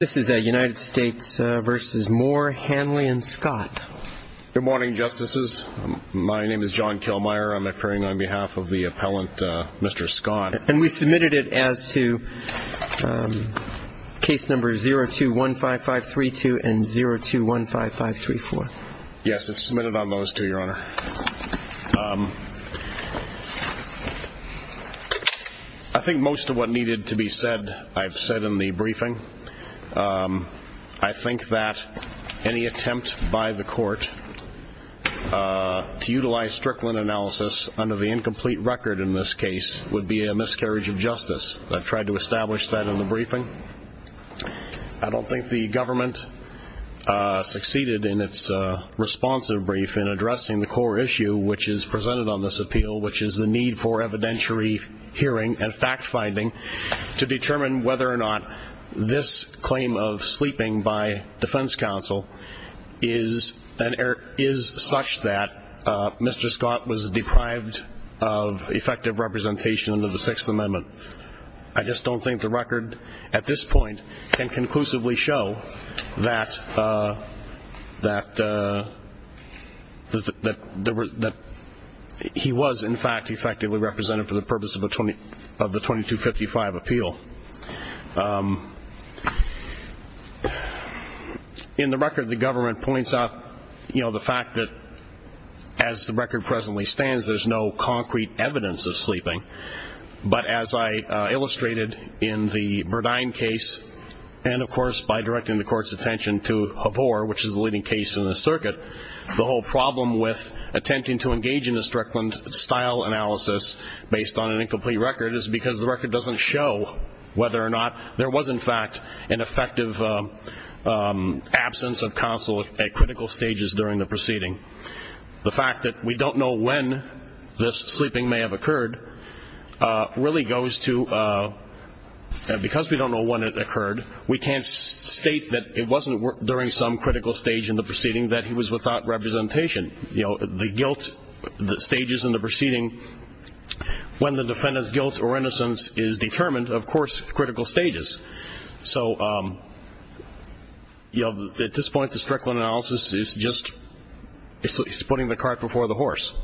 Good morning, justices. My name is John Kilmeyer. I'm appearing on behalf of the appellant, Mr. Scott, and we've submitted it as to case number 0215532 and 0215534. Yes, it's submitted on those two, Your Honor. I think most of what needed to be said I've said in the briefing. I think that any attempt by the court to utilize Strickland analysis under the incomplete record in this case would be a miscarriage of justice. I've tried to establish that in the briefing. I don't think the government succeeded in its responsive brief in addressing the core issue which is presented on this appeal, which is the need for evidentiary hearing and fact-finding to determine whether or not this claim of sleeping by defense counsel is such that Mr. Scott was deprived of effective representation under the Sixth Amendment. I just don't think the record at this point can conclusively show that he was, in fact, effectively represented for the purpose of the 2255 appeal. In the record, the government points out the fact that, as the record presently stands, there's no concrete evidence of sleeping. But as I illustrated in the Verdine case and, of course, by directing the court's attention to Habor, which is the leading case in the circuit, the whole problem with attempting to engage in a Strickland-style analysis based on an incomplete record is because the record doesn't show whether or not Mr. Scott was, in fact, effectively represented for the purpose of the 2255 appeal. It doesn't show whether or not there was, in fact, an effective absence of counsel at critical stages during the proceeding. The fact that we don't know when this sleeping may have occurred really goes to, because we don't know when it occurred, we can't state that it wasn't during some critical stage in the proceeding that he was without representation. The guilt, the stages in the proceeding, when the defendant's guilt or innocence is determined, of course, critical stages. So at this point, the Strickland analysis is just putting the cart before the horse.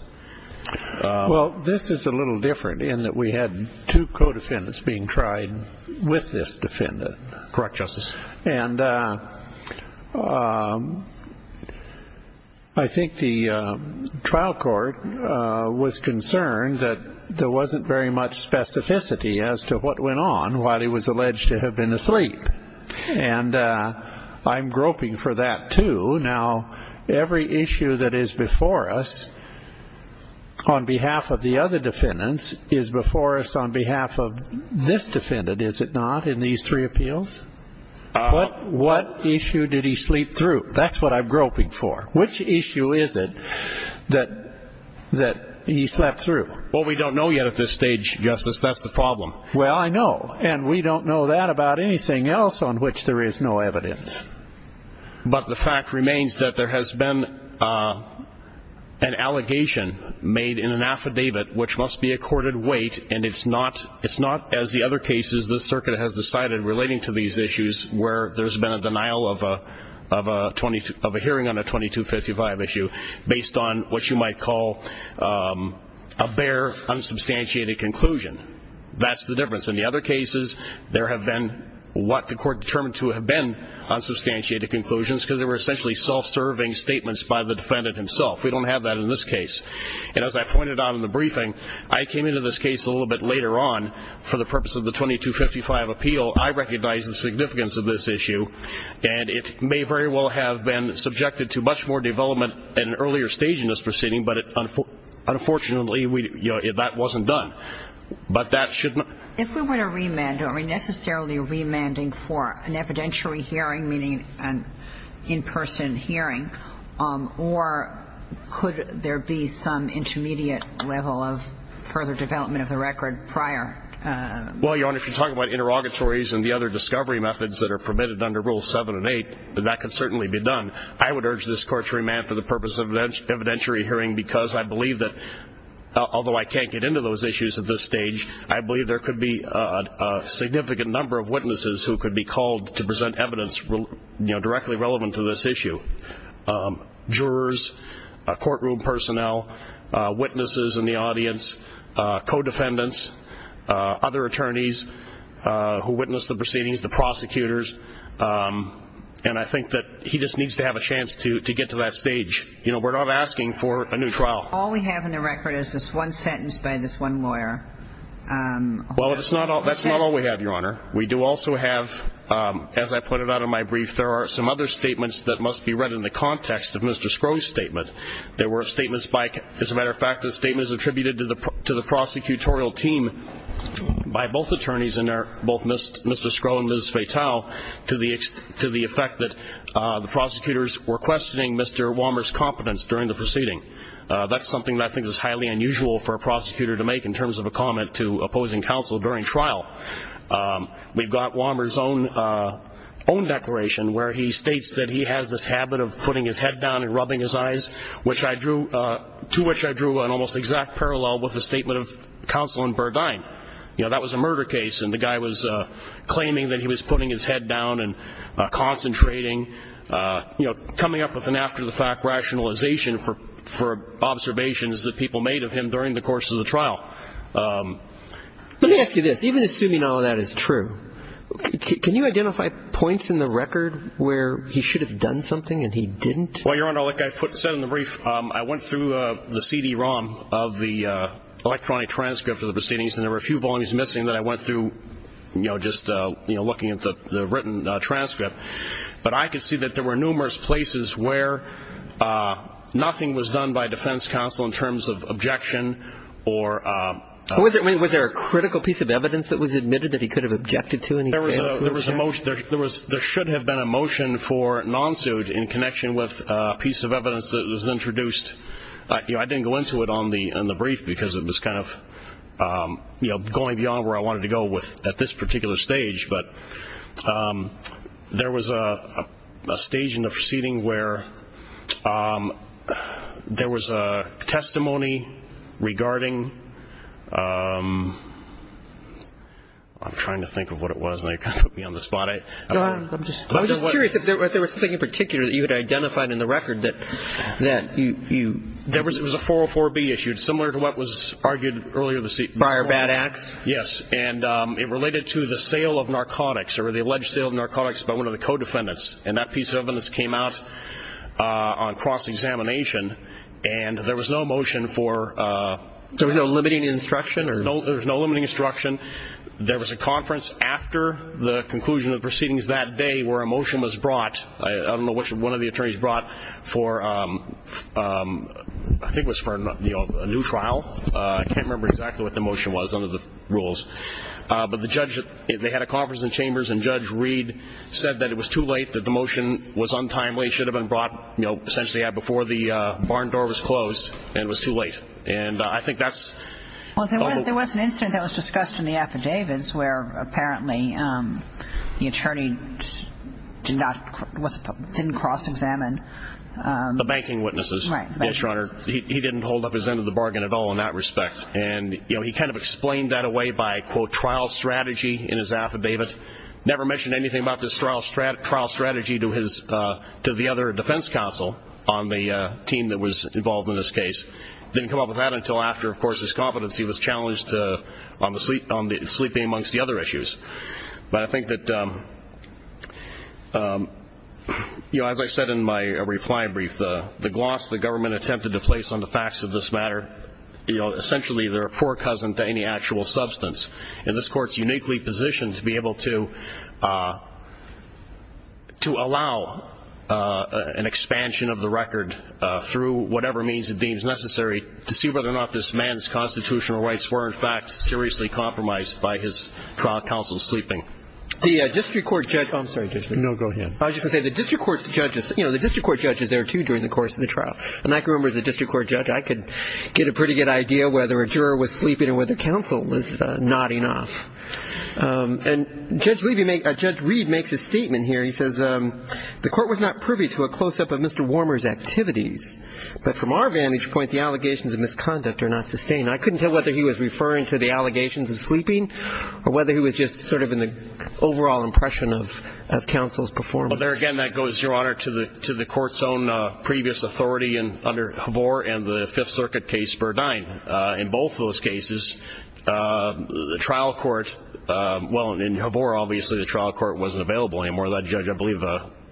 Well, this is a little different in that we had two co-defendants being tried with this defendant. And I think the trial court was concerned that there wasn't very much specificity as to what went on while he was alleged to have been asleep. And I'm groping for that, too. Now, every issue that is before us on behalf of the other defendants is before us on behalf of this defendant, is it not, in these three appeals? What issue did he sleep through? That's what I'm groping for. Which issue is it that he slept through? Well, we don't know yet at this stage, Justice. That's the problem. Well, I know. And we don't know that about anything else on which there is no evidence. But the fact remains that there has been an allegation made in an affidavit which must be accorded weight, and it's not, as the other cases, the circuit has decided relating to these issues where there's been a denial of a hearing on a 2255 issue based on what you might call a bare, unsubstantiated conclusion. That's the difference. In the other cases, there have been what the court determined to have been unsubstantiated conclusions because they were essentially self-serving statements by the defendant himself. We don't have that in this case. And as I pointed out in the briefing, I came into this case a little bit later on for the purpose of the 2255 appeal. I recognize the significance of this issue. And it may very well have been subjected to much more development at an earlier stage in this proceeding, but unfortunately, that wasn't done. If we were to remand, are we necessarily remanding for an evidentiary hearing, meaning an in-person hearing, or could there be some intermediate level of further development of the record prior? Well, Your Honor, if you're talking about interrogatories and the other discovery methods that are permitted under Rules 7 and 8, then that can certainly be done. I would urge this court to remand for the purpose of an evidentiary hearing because I believe that, although I can't get into those issues at this stage, I believe there could be a significant number of witnesses who could be called to present evidence directly relevant to this issue. Jurors, courtroom personnel, witnesses in the audience, co-defendants, other attorneys who witnessed the proceedings, the prosecutors, and I think that he just needs to have a chance to get to that stage. You know, we're not asking for a new trial. All we have in the record is this one sentence by this one lawyer. Well, that's not all we have, Your Honor. We do also have, as I put it out in my brief, there are some other statements that must be read in the context of Mr. Scrowe's statement. There were statements by, as a matter of fact, the statements attributed to the prosecutorial team by both attorneys in there, both Mr. Scrowe and Ms. Fatale, to the effect that the prosecutors were questioning Mr. Walmers' competence during the proceeding. That's something that I think is highly unusual for a prosecutor to make in terms of a comment to opposing counsel during trial. We've got Walmers' own declaration where he states that he has this habit of putting his head down and rubbing his eyes, to which I drew an almost exact parallel with the statement of counsel in Burdine. You know, that was a murder case, and the guy was claiming that he was putting his head down and concentrating, you know, coming up with an after-the-fact rationalization for observations that people made of him during the course of the trial. Let me ask you this. Even assuming all of that is true, can you identify points in the record where he should have done something and he didn't? Well, Your Honor, like I said in the brief, I went through the CD-ROM of the electronic transcript of the proceedings, and there were a few volumes missing that I went through, you know, just looking at the written transcript. But I could see that there were numerous places where nothing was done by defense counsel in terms of objection or – Was there a critical piece of evidence that was admitted that he could have objected to? There should have been a motion for non-suit in connection with a piece of evidence that was introduced. I didn't go into it in the brief because it was kind of, you know, going beyond where I wanted to go at this particular stage. But there was a stage in the proceeding where there was a testimony regarding – I'm trying to think of what it was, and you kind of put me on the spot. Your Honor, I'm just curious if there was something in particular that you had identified in the record that you – There was a 404B issued, similar to what was argued earlier in the – Fire Bad Axe? Yes, and it related to the sale of narcotics, or the alleged sale of narcotics by one of the co-defendants. And that piece of evidence came out on cross-examination, and there was no motion for – There was no limiting instruction? There was no limiting instruction. There was a conference after the conclusion of the proceedings that day where a motion was brought. I don't know which one of the attorneys brought for – I think it was for a new trial. I can't remember exactly what the motion was under the rules. But the judge – they had a conference in chambers, and Judge Reed said that it was too late, that the motion was untimely, should have been brought, you know, essentially before the barn door was closed, and it was too late. And I think that's – Well, there was an incident that was discussed in the affidavits where apparently the attorney did not – didn't cross-examine – The banking witnesses. Right. Yes, Your Honor. He didn't hold up his end of the bargain at all in that respect. And, you know, he kind of explained that away by, quote, trial strategy in his affidavit. Never mentioned anything about this trial strategy to his – to the other defense counsel on the team that was involved in this case. Didn't come up with that until after, of course, his competency was challenged on the – sleeping amongst the other issues. But I think that, you know, as I said in my reply brief, the gloss the government attempted to place on the facts of this matter, you know, essentially they're a poor cousin to any actual substance. And this Court's uniquely positioned to be able to allow an expansion of the record through whatever means it deems necessary to see whether or not this man's constitutional rights were, in fact, seriously compromised by his trial counsel's sleeping. The district court judge – I'm sorry, Judge Lee. No, go ahead. I was just going to say the district court's judges – you know, the district court judge is there, too, during the course of the trial. And I can remember as a district court judge, I could get a pretty good idea whether a juror was sleeping and whether counsel was nodding off. And Judge Lee – Judge Reed makes a statement here. He says the Court was not privy to a close-up of Mr. Warmer's activities. But from our vantage point, the allegations of misconduct are not sustained. I couldn't tell whether he was referring to the allegations of sleeping or whether he was just sort of in the overall impression of counsel's performance. Well, there again, that goes, Your Honor, to the Court's own previous authority under Havor and the Fifth Circuit case, Spur 9. In both those cases, the trial court – well, in Havor, obviously, the trial court wasn't available anymore. That judge, I believe,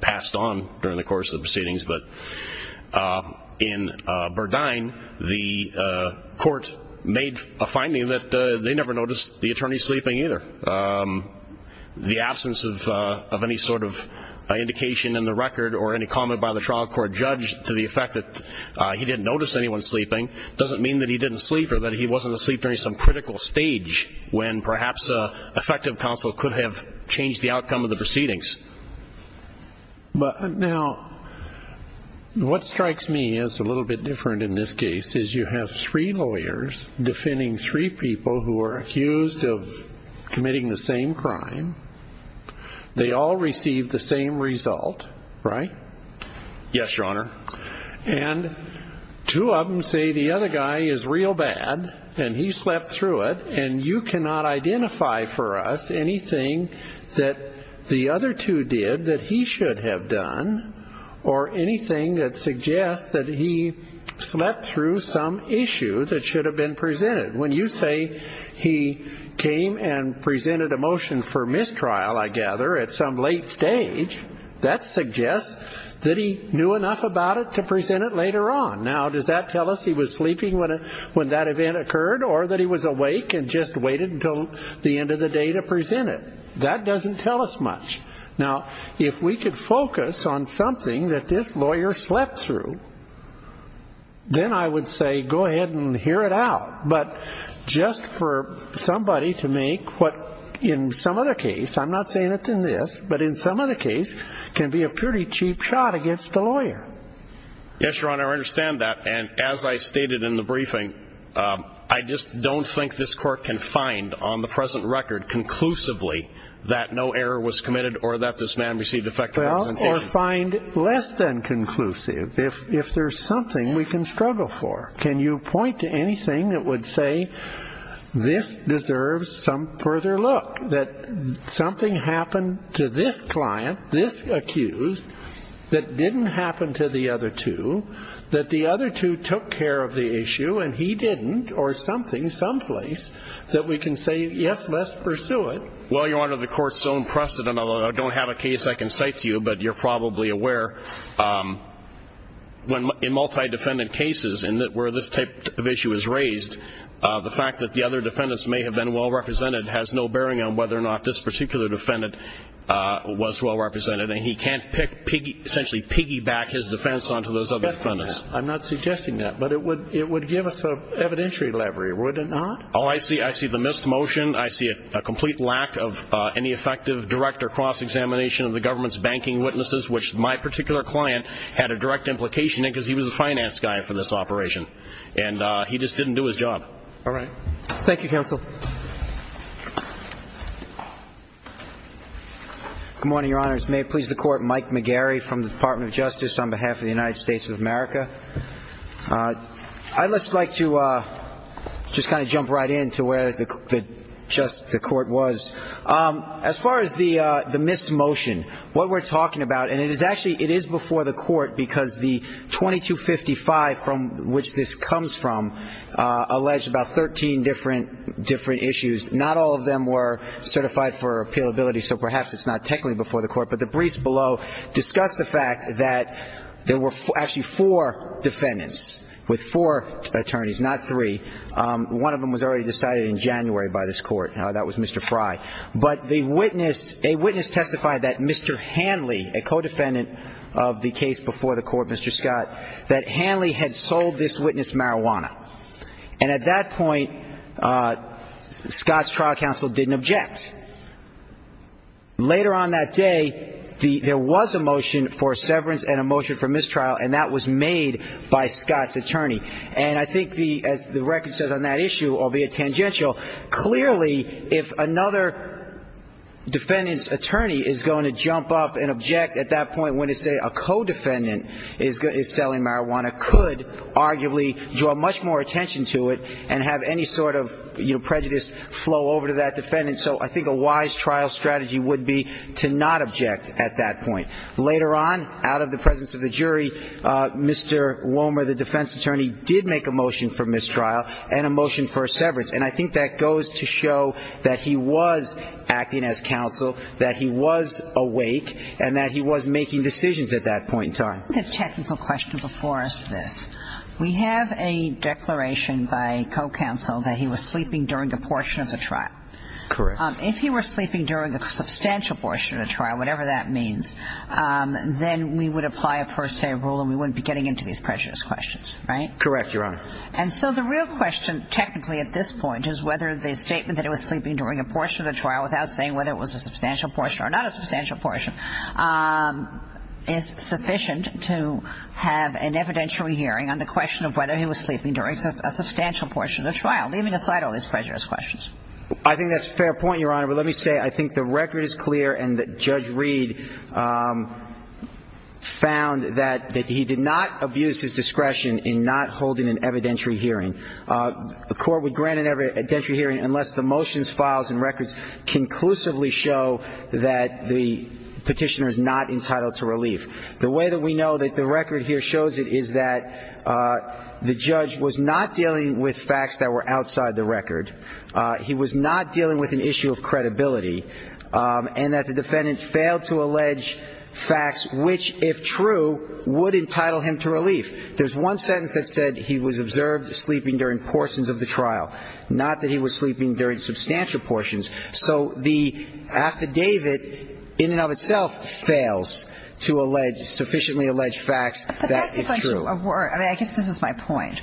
passed on during the course of the proceedings. But in Burdine, the court made a finding that they never noticed the attorney sleeping either. The absence of any sort of indication in the record or any comment by the trial court judge to the effect that he didn't notice anyone sleeping doesn't mean that he didn't sleep or that he wasn't asleep during some critical stage when perhaps effective counsel could have changed the outcome of the proceedings. Now, what strikes me as a little bit different in this case is you have three lawyers defending three people who are accused of committing the same crime. They all received the same result, right? Yes, Your Honor. And two of them say the other guy is real bad and he slept through it and you cannot identify for us anything that the other two did that he should have done or anything that suggests that he slept through some issue that should have been presented. When you say he came and presented a motion for mistrial, I gather, at some late stage, that suggests that he knew enough about it to present it later on. Now, does that tell us he was sleeping when that event occurred or that he was awake and just waited until the end of the day to present it? That doesn't tell us much. Now, if we could focus on something that this lawyer slept through, then I would say go ahead and hear it out. But just for somebody to make what, in some other case, I'm not saying it's in this, but in some other case, can be a pretty cheap shot against the lawyer. Yes, Your Honor, I understand that. And as I stated in the briefing, I just don't think this court can find on the present record conclusively that no error was committed or that this man received effective representation. Or find less than conclusive. If there's something we can struggle for, can you point to anything that would say this deserves some further look, that something happened to this client, this accused, that didn't happen to the other two, that the other two took care of the issue and he didn't, or something, someplace, that we can say, yes, let's pursue it? Well, Your Honor, the court's own precedent, although I don't have a case I can cite to you, but you're probably aware in multi-defendant cases where this type of issue is raised, the fact that the other defendants may have been well-represented has no bearing on whether or not this particular defendant was well-represented. And he can't essentially piggyback his defense onto those other defendants. I'm not suggesting that, but it would give us an evidentiary levery, would it not? Oh, I see the missed motion. I see a complete lack of any effective direct or cross-examination of the government's banking witnesses, which my particular client had a direct implication in because he was the finance guy for this operation. And he just didn't do his job. All right. Thank you, counsel. Good morning, Your Honors. May it please the Court, Mike McGarry from the Department of Justice on behalf of the United States of America. I'd just like to just kind of jump right in to where the court was. As far as the missed motion, what we're talking about, and it is actually before the court because the 2255 from which this comes from alleged about 13 different issues. Not all of them were certified for appealability, so perhaps it's not technically before the court. But the briefs below discuss the fact that there were actually four defendants with four attorneys, not three. One of them was already decided in January by this court. That was Mr. Fry. But a witness testified that Mr. Hanley, a co-defendant of the case before the court, Mr. Scott, that Hanley had sold this witness marijuana. And at that point, Scott's trial counsel didn't object. Later on that day, there was a motion for severance and a motion for mistrial, and that was made by Scott's attorney. And I think as the record says on that issue, albeit tangential, clearly if another defendant's attorney is going to jump up and object at that point when to say a co-defendant is selling marijuana could arguably draw much more attention to it and have any sort of prejudice flow over to that defendant. So I think a wise trial strategy would be to not object at that point. Later on, out of the presence of the jury, Mr. Womer, the defense attorney, did make a motion for mistrial and a motion for severance. And I think that goes to show that he was acting as counsel, that he was awake, and that he was making decisions at that point in time. Let me ask a technical question before I ask this. We have a declaration by co-counsel that he was sleeping during a portion of the trial. Correct. If he were sleeping during a substantial portion of the trial, whatever that means, then we would apply a per se rule and we wouldn't be getting into these prejudiced questions, right? Correct, Your Honor. And so the real question technically at this point is whether the statement that he was sleeping during a portion of the trial without saying whether it was a substantial portion or not a substantial portion is sufficient to have an evidentiary hearing on the question of whether he was sleeping during a substantial portion of the trial, leaving aside all these prejudiced questions. I think that's a fair point, Your Honor, but let me say I think the record is clear and that Judge Reed found that he did not abuse his discretion in not holding an evidentiary hearing. The court would grant an evidentiary hearing unless the motions, files, and records conclusively show that the petitioner is not entitled to relief. The way that we know that the record here shows it is that the judge was not dealing with facts that were outside the record. He was not dealing with an issue of credibility and that the defendant failed to allege facts which, if true, would entitle him to relief. There's one sentence that said he was observed sleeping during portions of the trial, not that he was sleeping during substantial portions. So the affidavit in and of itself fails to sufficiently allege facts that if true. I guess this is my point.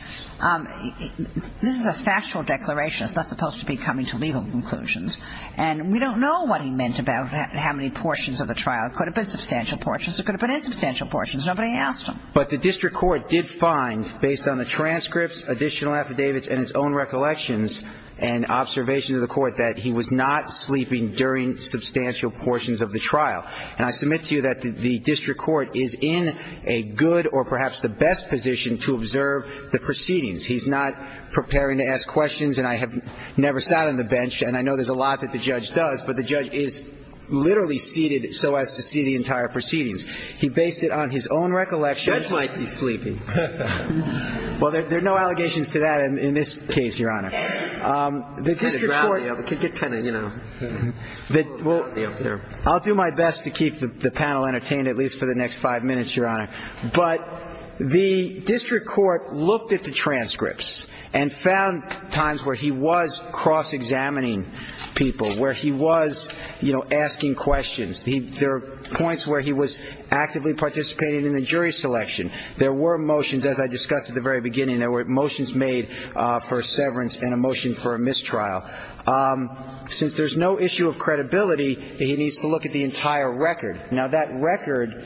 This is a factual declaration. It's not supposed to be coming to legal conclusions. And we don't know what he meant about how many portions of the trial. It could have been substantial portions. It could have been insubstantial portions. Nobody asked him. But the district court did find, based on the transcripts, additional affidavits, and his own recollections and observations of the court, that he was not sleeping during substantial portions of the trial. And I submit to you that the district court is in a good or perhaps the best position to observe the proceedings. He's not preparing to ask questions, and I have never sat on the bench, and I know there's a lot that the judge does, but the judge is literally seated so as to see the entire proceedings. He based it on his own recollections. The judge might be sleeping. Well, there are no allegations to that in this case, Your Honor. I'll do my best to keep the panel entertained at least for the next five minutes, Your Honor. But the district court looked at the transcripts and found times where he was cross-examining people, where he was, you know, asking questions. There are points where he was actively participating in the jury selection. There were motions, as I discussed at the very beginning, there were motions made for severance and acquittal. And a motion for a mistrial. Since there's no issue of credibility, he needs to look at the entire record. Now, that record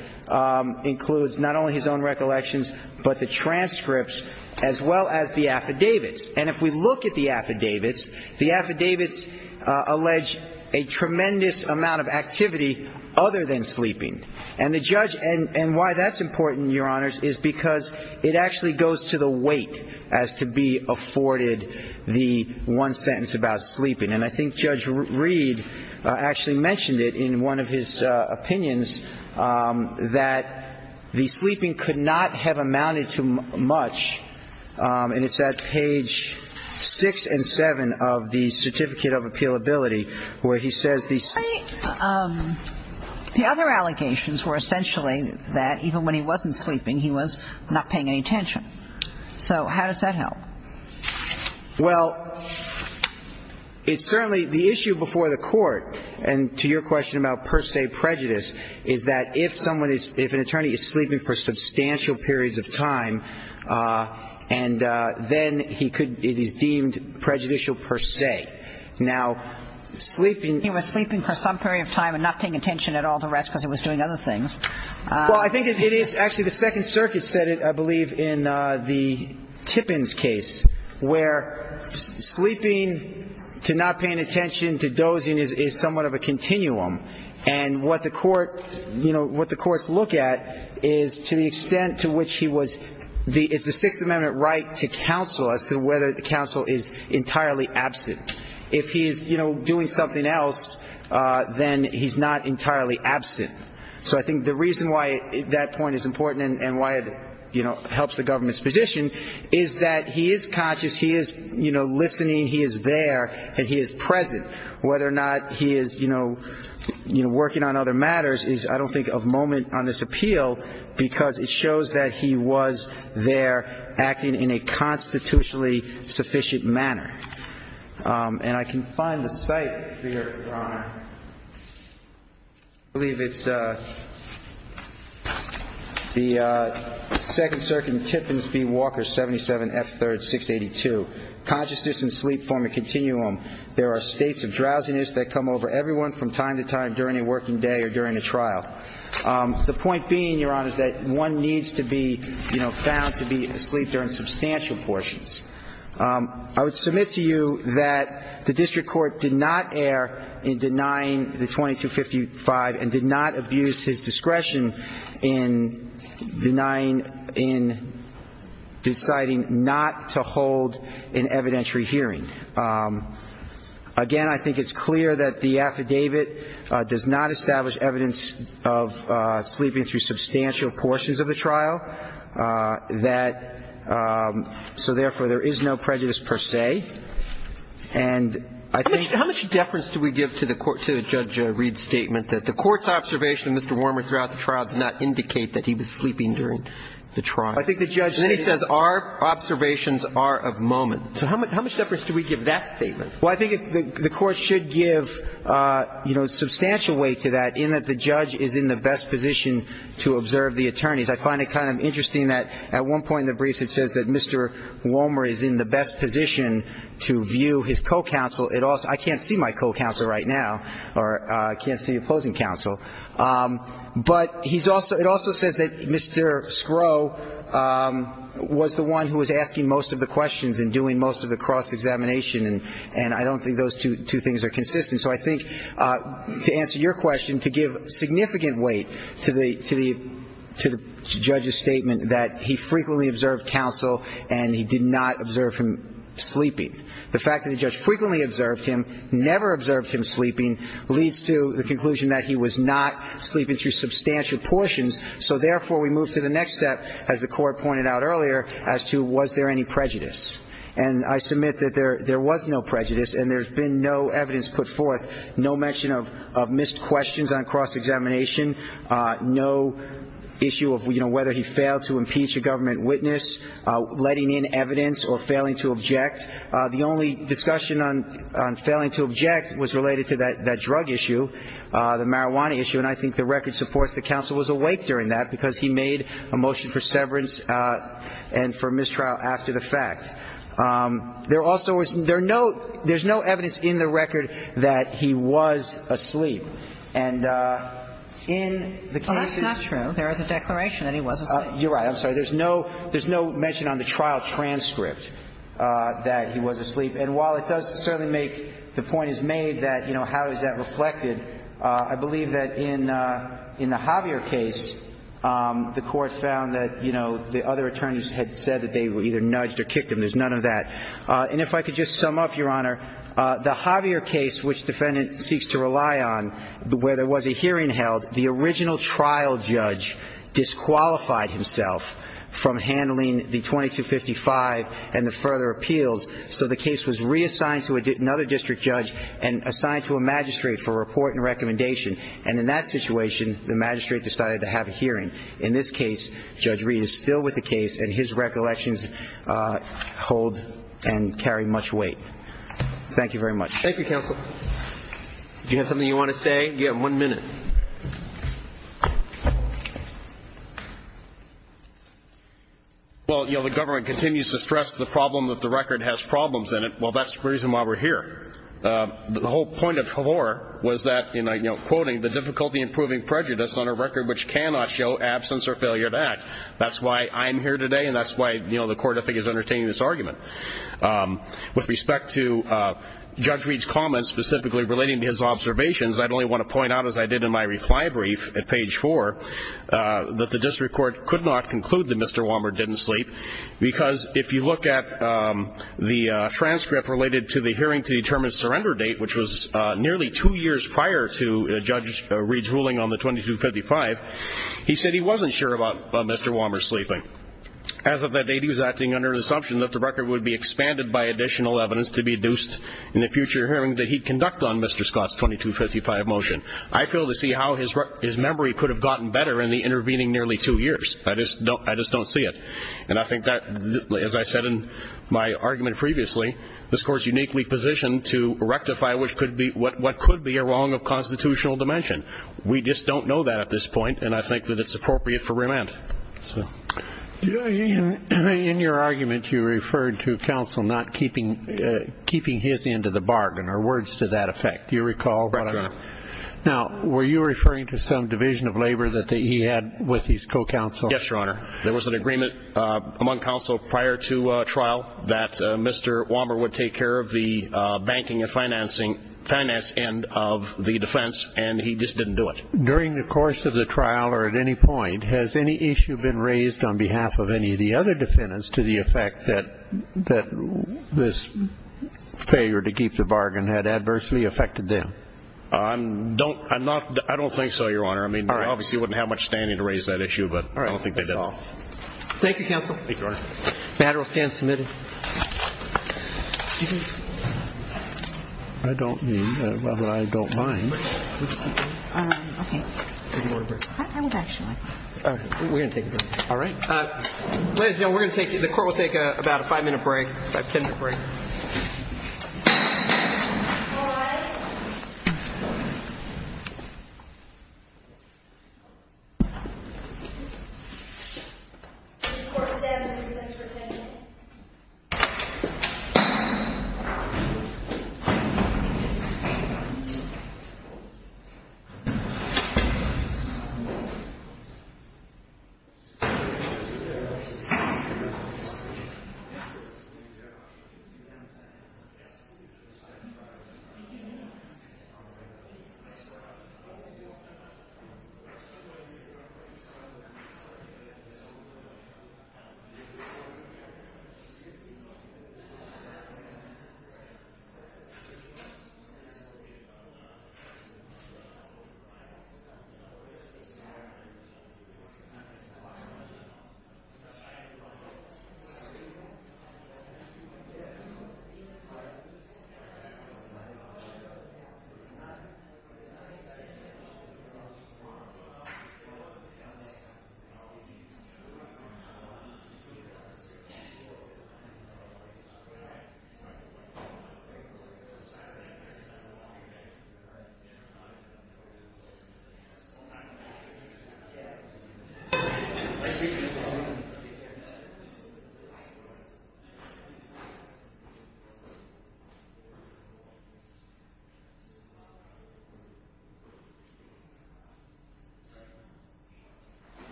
includes not only his own recollections, but the transcripts as well as the affidavits. And if we look at the affidavits, the affidavits allege a tremendous amount of activity other than sleeping. And the judge, and why that's important, Your Honors, is because it actually goes to the weight as to be afforded the one sentence about sleeping. And I think Judge Reed actually mentioned it in one of his opinions, that the sleeping could not have amounted to much. And it's at page 6 and 7 of the Certificate of Appealability where he says the sleep The other allegations were essentially that even when he wasn't sleeping, he was not paying any attention. So how does that help? Well, it's certainly the issue before the Court, and to your question about per se prejudice, is that if someone is, if an attorney is sleeping for substantial periods of time, and then he could, it is deemed prejudicial per se. Now, sleeping He was sleeping for some period of time and not paying attention at all to rest because he was doing other things. Well, I think it is, actually the Second Circuit said it, I believe, in the Tippins case, where sleeping to not paying attention to dozing is somewhat of a continuum. And what the court, you know, what the courts look at is to the extent to which he was, it's the Sixth Amendment right to counsel as to whether the counsel is entirely absent. If he is, you know, doing something else, then he's not entirely absent. So I think the reason why that point is important and why it, you know, helps the government's position is that he is conscious, he is, you know, listening, he is there, and he is present. Whether or not he is, you know, working on other matters is, I don't think, of moment on this appeal because it shows that he was there acting in a constitutionally sufficient manner. And I can find the cite here, Your Honor. I believe it's the Second Circuit in Tippins v. Walker, 77 F. 3rd, 682. Consciousness and sleep form a continuum. There are states of drowsiness that come over everyone from time to time during a working day or during a trial. The point being, Your Honor, is that one needs to be, you know, found to be asleep during substantial portions. I would submit to you that the district court did not err in denying the 2255 and did not abuse his discretion in denying, in deciding not to hold an evidentiary hearing. Again, I think it's clear that the affidavit does not establish evidence of sleeping through substantial portions of the trial. That so, therefore, there is no prejudice per se. And I think the court's observation of Mr. Warmer throughout the trial does not indicate that he was sleeping during the trial. I think the judge says our observations are of moment. So how much deference do we give that statement? Well, I think the court should give, you know, substantial weight to that in that the judge is in the best position to observe the attorneys. I find it kind of interesting that at one point in the briefs it says that Mr. Warmer is in the best position to view his co-counsel. I can't see my co-counsel right now, or I can't see opposing counsel. But he's also ‑‑ it also says that Mr. Scrow was the one who was asking most of the questions and doing most of the cross-examination, and I don't think those two things are consistent. So I think to answer your question, to give significant weight to the judge's statement that he frequently observed counsel and he did not observe him sleeping. The fact that the judge frequently observed him, never observed him sleeping, leads to the conclusion that he was not sleeping through substantial portions. So, therefore, we move to the next step, as the court pointed out earlier, as to was there any prejudice. And I submit that there was no prejudice and there's been no evidence put forth, no mention of missed questions on cross-examination, no issue of, you know, whether he failed to impeach a government witness, letting in evidence or failing to object. The only discussion on failing to object was related to that drug issue, the marijuana issue, and I think the record supports that counsel was awake during that because he made a motion for severance and for mistrial after the fact. There also was ‑‑ there's no evidence in the record that he was asleep. And in the cases ‑‑ That's not true. There is a declaration that he was asleep. You're right. I'm sorry. There's no mention on the trial transcript that he was asleep. And while it does certainly make ‑‑ the point is made that, you know, how is that reflected, I believe that in the Javier case, the court found that, you know, the other attorneys had said that they either nudged or kicked him. There's none of that. And if I could just sum up, Your Honor, the Javier case, which defendant seeks to rely on, where there was a hearing held, the original trial judge disqualified himself from handling the 2255 and the further appeals, so the case was reassigned to another district judge and assigned to a magistrate for report and recommendation. And in that situation, the magistrate decided to have a hearing. In this case, Judge Reed is still with the case, and his recollections hold and carry much weight. Thank you very much. Thank you, counsel. Do you have something you want to say? You have one minute. Well, you know, the government continues to stress the problem that the record has problems in it. Well, that's the reason why we're here. The whole point of Havor was that, you know, quoting, the difficulty in proving prejudice on a record which cannot show absence or failure to act. That's why I'm here today, and that's why, you know, the court, I think, is entertaining this argument. With respect to Judge Reed's comments specifically relating to his observations, I'd only want to point out, as I did in my reply brief at page 4, that the district court could not conclude that Mr. Walmer didn't sleep, because if you look at the transcript related to the hearing to determine surrender date, which was nearly two years prior to Judge Reed's ruling on the 2255, he said he wasn't sure about Mr. Walmer sleeping. As of that date, he was acting under the assumption that the record would be expanded by additional evidence to be deduced in a future hearing that he'd conduct on Mr. Scott's 2255 motion. I fail to see how his memory could have gotten better in the intervening nearly two years. I just don't see it. And I think that, as I said in my argument previously, this court is uniquely positioned to rectify what could be a wrong of constitutional dimension. We just don't know that at this point, and I think that it's appropriate for remand. In your argument, you referred to counsel not keeping his end of the bargain, or words to that effect. Do you recall? Correct, Your Honor. Now, were you referring to some division of labor that he had with his co-counsel? Yes, Your Honor. There was an agreement among counsel prior to trial that Mr. Walmer would take care of the banking and finance end of the defense, and he just didn't do it. During the course of the trial or at any point, has any issue been raised on behalf of any of the other defendants to the effect that this failure to keep the bargain had adversely affected them? I don't think so, Your Honor. I mean, they obviously wouldn't have much standing to raise that issue, but I don't think they did at all. Thank you, counsel. Thank you, Your Honor. Banner will stand submitted. I don't mean that I don't mind. Okay. We're going to take a break. All right. Ladies and gentlemen, we're going to take you to court. We'll take about a five-minute break, a ten-minute break. All rise. Court is in.